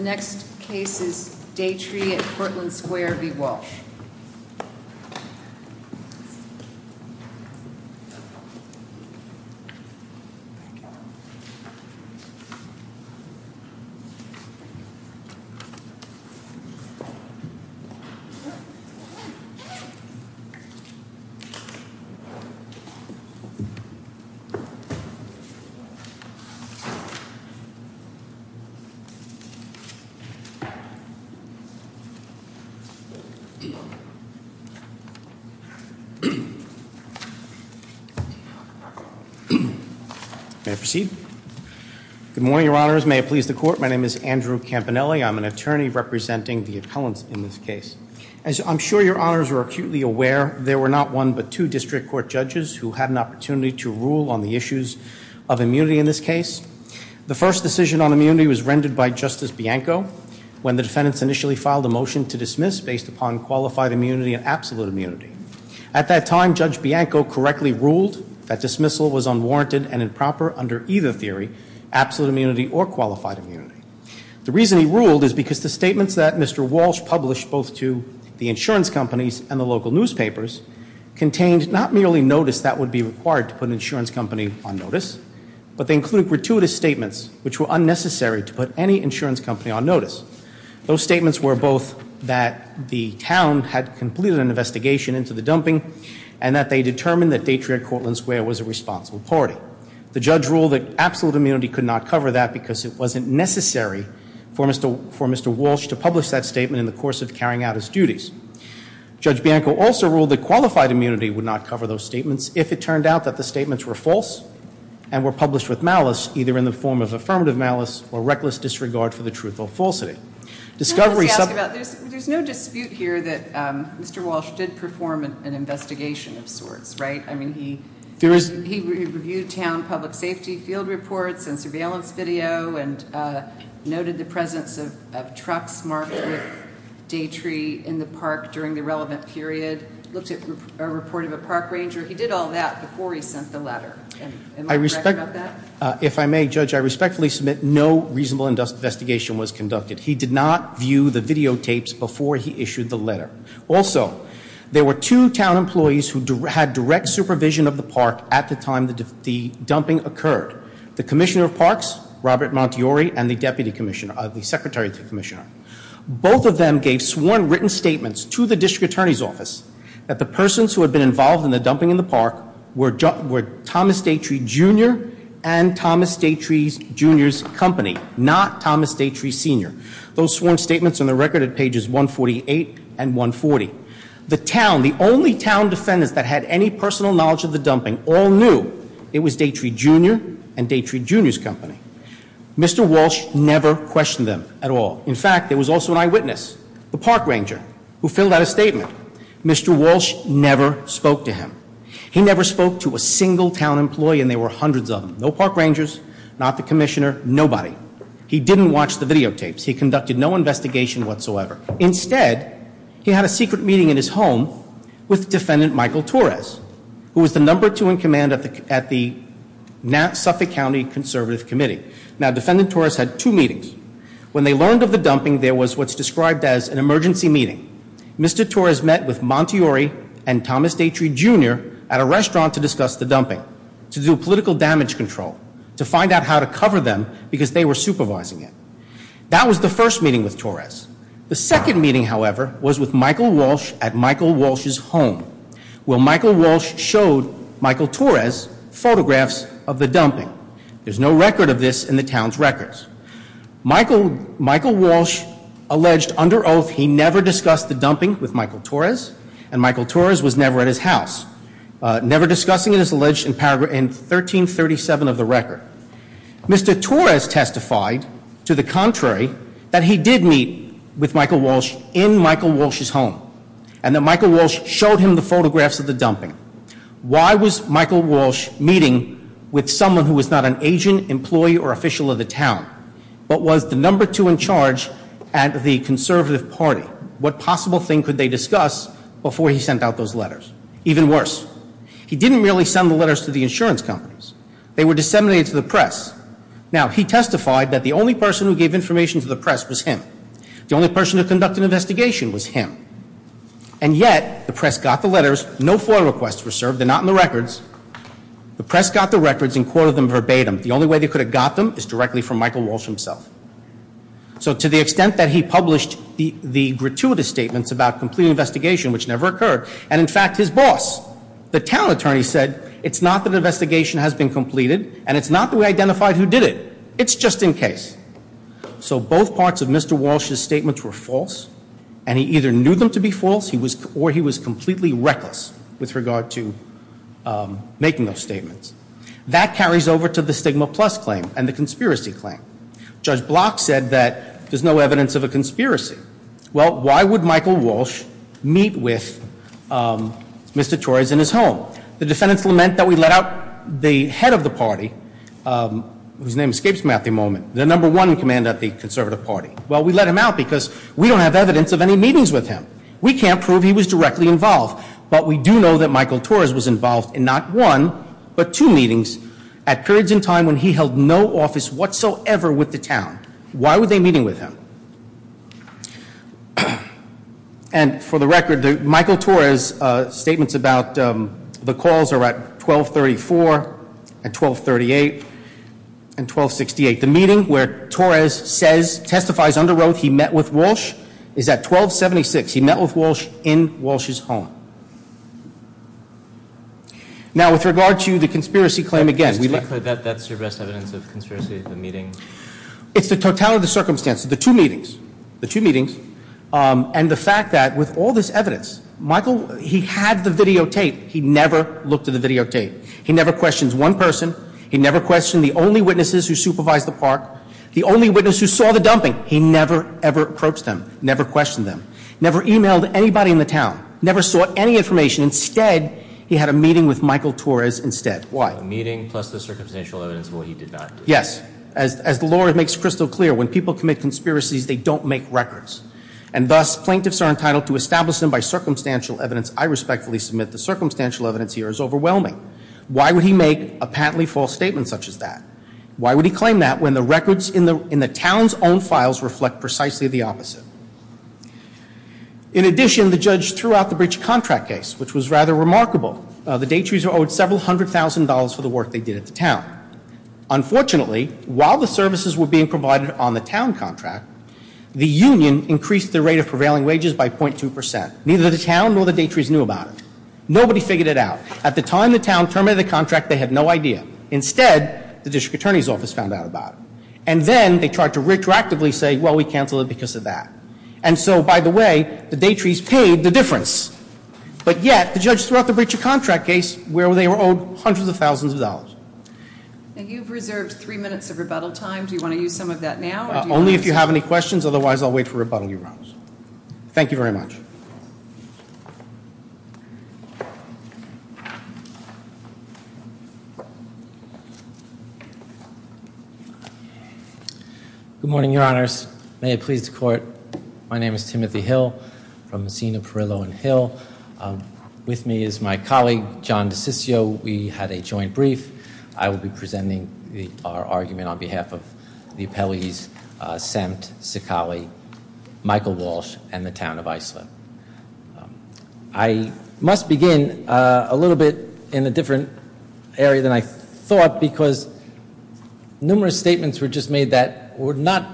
The next case is Daytree at Cortland Square v. Walsh. May I proceed? Good morning, your honors. May it please the court. My name is Andrew Campanelli. I'm an attorney representing the appellants in this case. As I'm sure your honors are acutely aware, there were not one but two district court judges who had an opportunity to rule on the issues of immunity in this case. The first decision on immunity was rendered by Justice Bianco when the defendants initially filed a motion to dismiss based upon qualified immunity and absolute immunity. At that time, Judge Bianco correctly ruled that dismissal was unwarranted and improper under either theory, absolute immunity or qualified immunity. The reason he ruled is because the statements that Mr. Walsh published both to the insurance companies and the local newspapers contained not merely notice that would be required to put an insurance company on notice, but they included gratuitous statements which were unnecessary to put any insurance company on notice. Those statements were both that the town had completed an investigation into the dumping and that they determined that Daytree at Cortland Square was a responsible party. The judge ruled that absolute immunity could not cover that because it wasn't necessary for Mr. Walsh to publish that statement in the course of carrying out his duties. Judge Bianco also ruled that qualified immunity would not cover those statements if it turned out that the statements were false and were published with malice either in the form of affirmative malice or reckless disregard for the truth or falsity. There's no dispute here that Mr. Walsh did perform an investigation of sorts, right? I mean, he reviewed town public safety field reports and surveillance video and noted the presence of trucks marked with Daytree in the park during the relevant period, looked at a report of a park ranger. He did all that before he sent the letter. Am I correct about that? If I may, Judge, I respectfully submit no reasonable investigation was conducted. He did not view the videotapes before he issued the letter. Also, there were two town employees who had direct supervision of the park at the time the dumping occurred. The commissioner of parks, Robert Montiore, and the deputy commissioner, the secretary to the commissioner. Both of them gave sworn written statements to the district attorney's office that the persons who had been involved in the dumping in the park were Thomas Daytree Jr. and Thomas Daytree Jr.'s company, not Thomas Daytree Sr. Those sworn statements are on the record at pages 148 and 140. The town, the only town defendants that had any personal knowledge of the dumping all knew it was Daytree Jr. and Daytree Jr.'s company. Mr. Walsh never questioned them at all. In fact, there was also an eyewitness, the park ranger, who filled out a statement. Mr. Walsh never spoke to him. He never spoke to a single town employee, and there were hundreds of them. No park rangers, not the commissioner, nobody. He didn't watch the videotapes. He conducted no investigation whatsoever. Instead, he had a secret meeting in his home with defendant Michael Torres, who was the number two in command at the Suffolk County Conservative Committee. Now, defendant Torres had two meetings. When they learned of the dumping, there was what's described as an emergency meeting. Mr. Torres met with Montiore and Thomas Daytree Jr. at a restaurant to discuss the dumping, to do political damage control, to find out how to cover them because they were supervising it. That was the first meeting with Torres. The second meeting, however, was with Michael Walsh at Michael Walsh's home, where Michael Walsh showed Michael Torres photographs of the dumping. There's no record of this in the town's records. Michael Walsh alleged under oath he never discussed the dumping with Michael Torres, and Michael Torres was never at his house. Never discussing it is alleged in 1337 of the record. Mr. Torres testified to the contrary, that he did meet with Michael Walsh in Michael Walsh's home, and that Michael Walsh showed him the photographs of the dumping. Why was Michael Walsh meeting with someone who was not an agent, employee, or official of the town, but was the number two in charge at the conservative party? What possible thing could they discuss before he sent out those letters? Even worse, he didn't really send the letters to the insurance companies. They were disseminated to the press. Now, he testified that the only person who gave information to the press was him. The only person to conduct an investigation was him. And yet, the press got the letters. No FOIA requests were served. They're not in the records. The press got the records and quoted them verbatim. The only way they could have got them is directly from Michael Walsh himself. So to the extent that he published the gratuitous statements about completing an investigation, which never occurred, and in fact his boss, the town attorney, said it's not that an investigation has been completed, and it's not that we identified who did it. It's just in case. So both parts of Mr. Walsh's statements were false, and he either knew them to be false or he was completely reckless with regard to making those statements. That carries over to the Stigma Plus claim and the conspiracy claim. Judge Block said that there's no evidence of a conspiracy. Well, why would Michael Walsh meet with Mr. Torres in his home? The defendants lament that we let out the head of the party, whose name escapes me at the moment, the number one commander of the conservative party. Well, we let him out because we don't have evidence of any meetings with him. We can't prove he was directly involved. But we do know that Michael Torres was involved in not one but two meetings at periods in time when he held no office whatsoever with the town. Why were they meeting with him? And for the record, Michael Torres' statements about the calls are at 1234 and 1238 and 1268. The meeting where Torres says, testifies under oath he met with Walsh is at 1276. He met with Walsh in Walsh's home. Now, with regard to the conspiracy claim, again, we let... That's your best evidence of conspiracy at the meeting? It's the totality of the circumstance. The two meetings. The two meetings. And the fact that with all this evidence, Michael, he had the videotape. He never looked at the videotape. He never questioned one person. He never questioned the only witnesses who supervised the park, the only witness who saw the dumping. He never, ever approached them, never questioned them, never emailed anybody in the town, never sought any information. Instead, he had a meeting with Michael Torres instead. Why? A meeting plus the circumstantial evidence of what he did not do. Yes. As the lawyer makes crystal clear, when people commit conspiracies, they don't make records. And thus, plaintiffs are entitled to establish them by circumstantial evidence. I respectfully submit the circumstantial evidence here is overwhelming. Why would he make a patently false statement such as that? Why would he claim that when the records in the town's own files reflect precisely the opposite? In addition, the judge threw out the Breach contract case, which was rather remarkable. The Daitries are owed several hundred thousand dollars for the work they did at the town. Now, unfortunately, while the services were being provided on the town contract, the union increased the rate of prevailing wages by 0.2 percent. Neither the town nor the Daitries knew about it. Nobody figured it out. At the time the town terminated the contract, they had no idea. Instead, the district attorney's office found out about it. And then they tried to retroactively say, well, we canceled it because of that. And so, by the way, the Daitries paid the difference. But yet, the judge threw out the Breach of Contract case where they were owed hundreds of thousands of dollars. And you've reserved three minutes of rebuttal time. Do you want to use some of that now? Only if you have any questions. Otherwise, I'll wait for rebuttal, Your Honor. Thank you very much. Good morning, Your Honors. May it please the Court. My name is Timothy Hill from Messina, Perillo, and Hill. With me is my colleague, John DeCiccio. We had a joint brief. I will be presenting our argument on behalf of the appellees, Semt, Sicaly, Michael Walsh, and the Town of Iceland. I must begin a little bit in a different area than I thought because numerous statements were just made that were not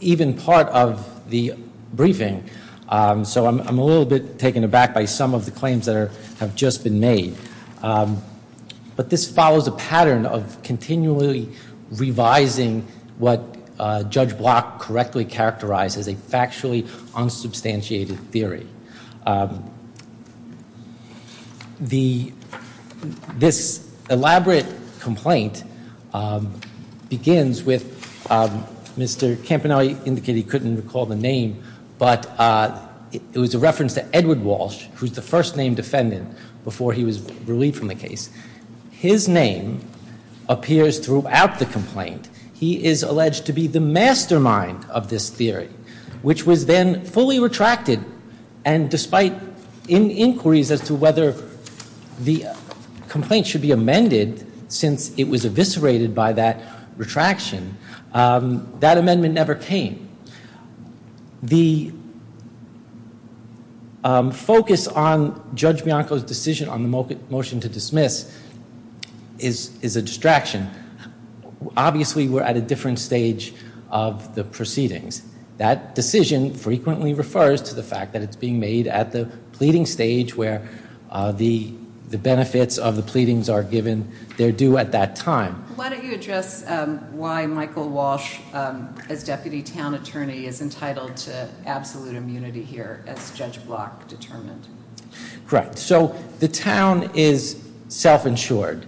even part of the briefing. So I'm a little bit taken aback by some of the claims that have just been made. But this follows a pattern of continually revising what Judge Block correctly characterized as a factually unsubstantiated theory. This elaborate complaint begins with Mr. Campanelli indicating he couldn't recall the name, but it was a reference to Edward Walsh, who was the first named defendant before he was relieved from the case. His name appears throughout the complaint. He is alleged to be the mastermind of this theory, which was then fully retracted, and despite inquiries as to whether the complaint should be amended since it was eviscerated by that retraction, that amendment never came. The focus on Judge Bianco's decision on the motion to dismiss is a distraction. Obviously, we're at a different stage of the proceedings. That decision frequently refers to the fact that it's being made at the pleading stage where the benefits of the pleadings are given. They're due at that time. Why don't you address why Michael Walsh, as Deputy Town Attorney, is entitled to absolute immunity here, as Judge Block determined? Correct. So the town is self-insured.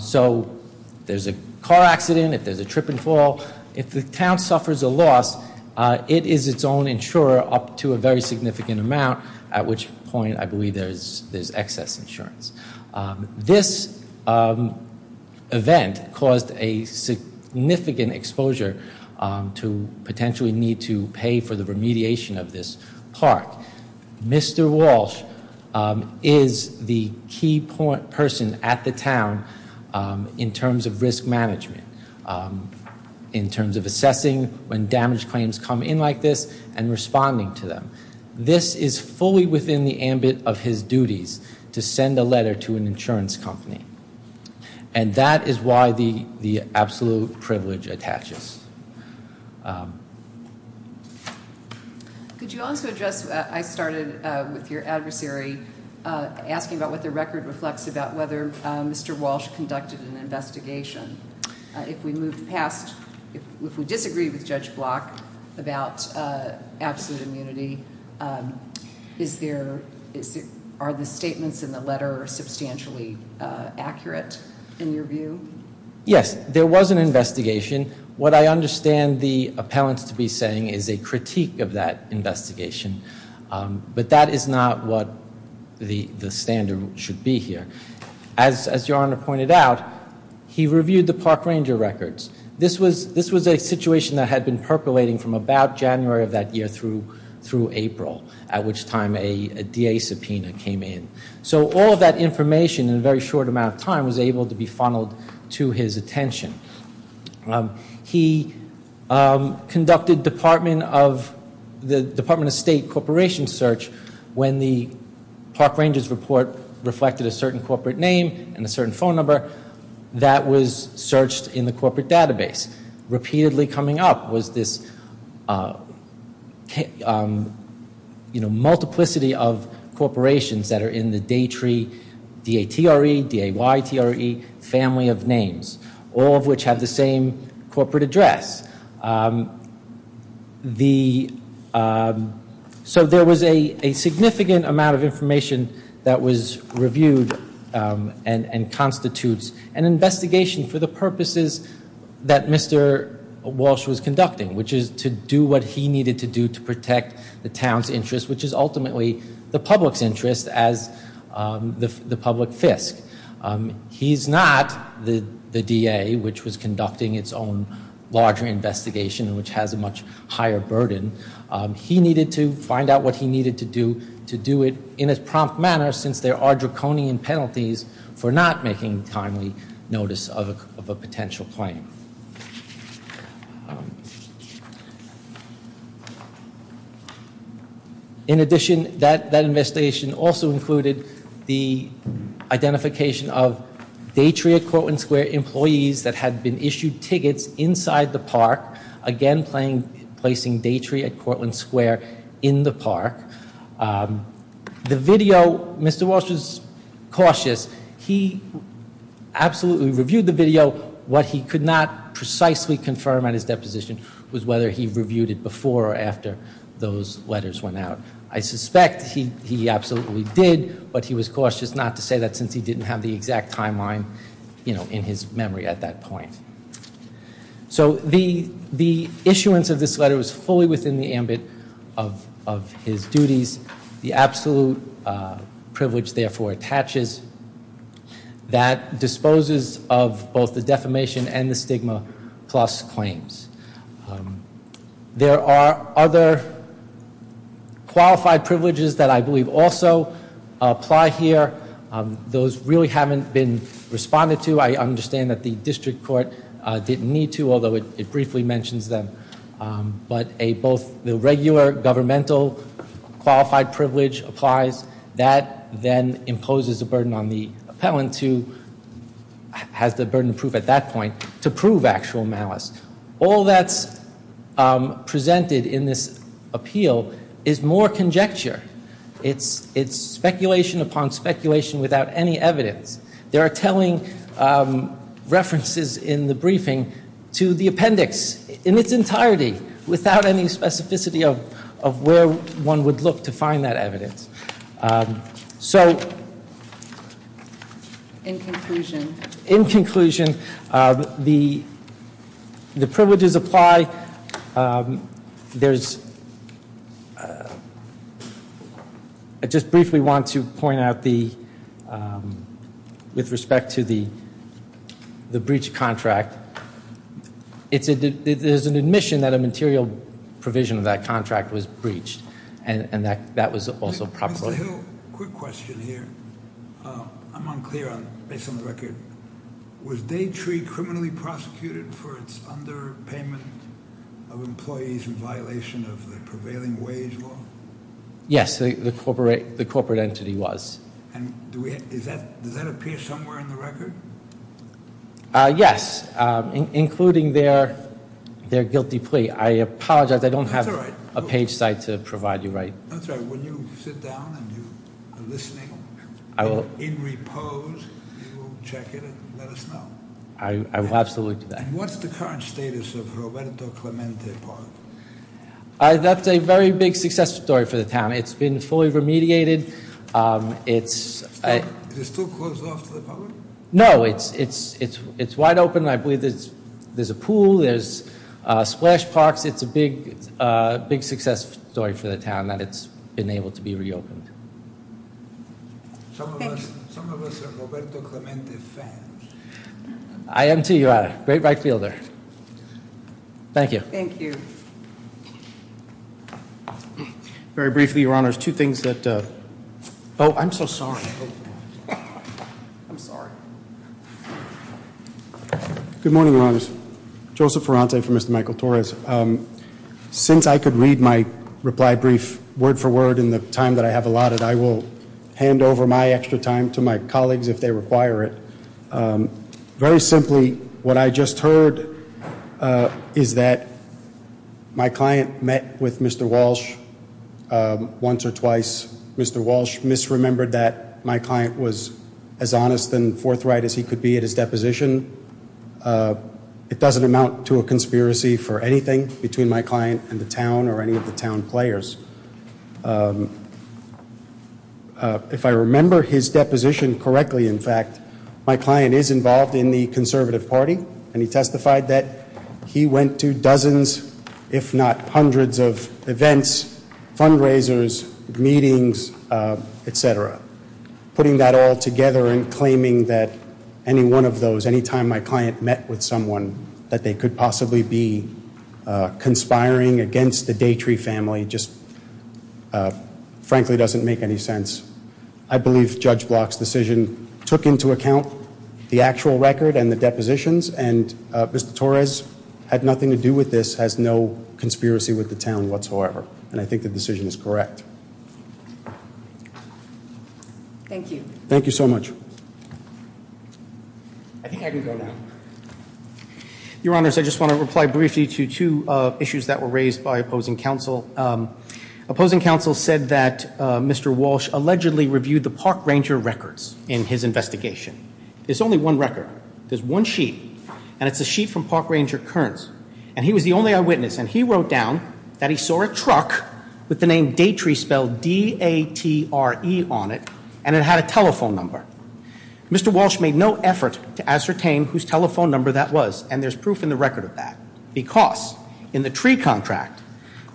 So if there's a car accident, if there's a trip and fall, if the town suffers a loss, it is its own insurer up to a very significant amount, at which point I believe there's excess insurance. This event caused a significant exposure to potentially need to pay for the remediation of this park. Mr. Walsh is the key person at the town in terms of risk management, in terms of assessing when damaged claims come in like this and responding to them. This is fully within the ambit of his duties to send a letter to an insurance company, and that is why the absolute privilege attaches. Could you also address, I started with your adversary, asking about what the record reflects about whether Mr. Walsh conducted an investigation. If we disagree with Judge Block about absolute immunity, are the statements in the letter substantially accurate in your view? Yes, there was an investigation. What I understand the appellant to be saying is a critique of that investigation, but that is not what the standard should be here. As your Honor pointed out, he reviewed the park ranger records. This was a situation that had been percolating from about January of that year through April, at which time a DA subpoena came in. So all of that information in a very short amount of time was able to be funneled to his attention. He conducted the Department of State corporation search when the park ranger's report reflected a certain corporate name and a certain phone number that was searched in the corporate database. Repeatedly coming up was this multiplicity of corporations that are in the DATRE, DAYTRE, family of names, all of which have the same corporate address. So there was a significant amount of information that was reviewed and constitutes an investigation for the purposes that Mr. Walsh was conducting, which is to do what he needed to do to protect the town's interest, which is ultimately the public's interest as the public fisc. He's not the DA, which was conducting its own larger investigation, which has a much higher burden. He needed to find out what he needed to do to do it in a prompt manner since there are draconian penalties for not making timely notice of a potential claim. In addition, that investigation also included the identification of DATRE at Cortland Square employees that had been issued tickets inside the park, again placing DATRE at Cortland Square in the park. The video, Mr. Walsh was cautious. He absolutely reviewed the video. What he could not precisely confirm on his deposition was whether he reviewed it before or after those letters went out. I suspect he absolutely did, but he was cautious not to say that since he didn't have the exact timeline in his memory at that point. So the issuance of this letter was fully within the ambit of his duties. The absolute privilege, therefore, attaches that disposes of both the defamation and the stigma plus claims. There are other qualified privileges that I believe also apply here. Those really haven't been responded to. I understand that the district court didn't need to, although it briefly mentions them. But both the regular governmental qualified privilege applies. That then imposes a burden on the appellant who has the burden of proof at that point to prove actual malice. All that's presented in this appeal is more conjecture. It's speculation upon speculation without any evidence. There are telling references in the briefing to the appendix in its entirety without any specificity of where one would look to find that evidence. So in conclusion, the privileges apply. I just briefly want to point out with respect to the breach contract, there's an admission that a material provision of that contract was breached, and that was also properly. Mr. Hill, quick question here. I'm unclear based on the record. Was Daytree criminally prosecuted for its underpayment of employees in violation of the prevailing wage law? Yes, the corporate entity was. Does that appear somewhere in the record? Yes, including their guilty plea. I apologize. I don't have a page site to provide you right. That's all right. When you sit down and you are listening in repose, you will check it and let us know. I will absolutely do that. And what's the current status of Roberto Clemente Park? That's a very big success story for the town. It's been fully remediated. Is it still closed off to the public? No, it's wide open. I believe there's a pool. There's splash parks. It's a big success story for the town that it's been able to be reopened. Thank you. Some of us are Roberto Clemente fans. I am, too. You are a great right fielder. Thank you. Thank you. Very briefly, Your Honors, two things. Oh, I'm so sorry. I'm sorry. Good morning, Your Honors. Joseph Ferrante for Mr. Michael Torres. Since I could read my reply brief word for word in the time that I have allotted, I will hand over my extra time to my colleagues if they require it. Very simply, what I just heard is that my client met with Mr. Walsh once or twice. Mr. Walsh misremembered that my client was as honest and forthright as he could be at his deposition. It doesn't amount to a conspiracy for anything between my client and the town or any of the town players. If I remember his deposition correctly, in fact, my client is involved in the conservative party, and he testified that he went to dozens if not hundreds of events, fundraisers, meetings, et cetera, putting that all together and claiming that any one of those, any time my client met with someone that they could possibly be conspiring against the Daytree family just frankly doesn't make any sense. I believe Judge Block's decision took into account the actual record and the depositions, and Mr. Torres had nothing to do with this, has no conspiracy with the town whatsoever, and I think the decision is correct. Thank you. Thank you so much. I think I can go now. Your Honors, I just want to reply briefly to two issues that were raised by opposing counsel. Opposing counsel said that Mr. Walsh allegedly reviewed the Park Ranger records in his investigation. There's only one record. There's one sheet, and it's a sheet from Park Ranger Kearns, and he was the only eyewitness, and he wrote down that he saw a truck with the name Daytree spelled D-A-T-R-E on it, and it had a telephone number. Mr. Walsh made no effort to ascertain whose telephone number that was, and there's proof in the record of that, because in the tree contract,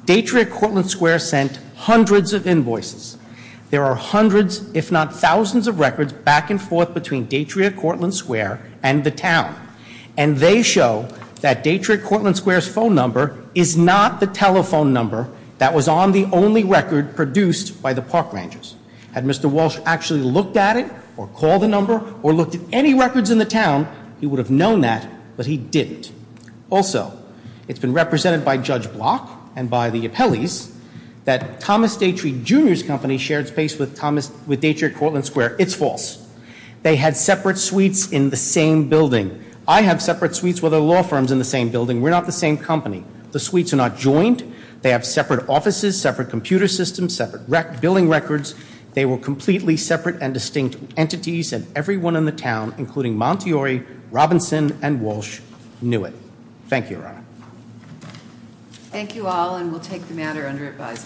Daytree at Cortlandt Square sent hundreds of invoices. There are hundreds if not thousands of records back and forth between Daytree at Cortlandt Square and the town, and they show that Daytree at Cortlandt Square's phone number is not the telephone number that was on the only record produced by the Park Rangers. Had Mr. Walsh actually looked at it or called the number or looked at any records in the town, he would have known that, but he didn't. Also, it's been represented by Judge Block and by the appellees that Thomas Daytree Jr.'s company shared space with Daytree at Cortlandt Square. It's false. They had separate suites in the same building. I have separate suites with other law firms in the same building. We're not the same company. The suites are not joined. They have separate offices, separate computer systems, separate billing records. They were completely separate and distinct entities, and everyone in the town, including Montiori, Robinson, and Walsh, knew it. Thank you, Your Honor. Thank you all, and we'll take the matter under advisement.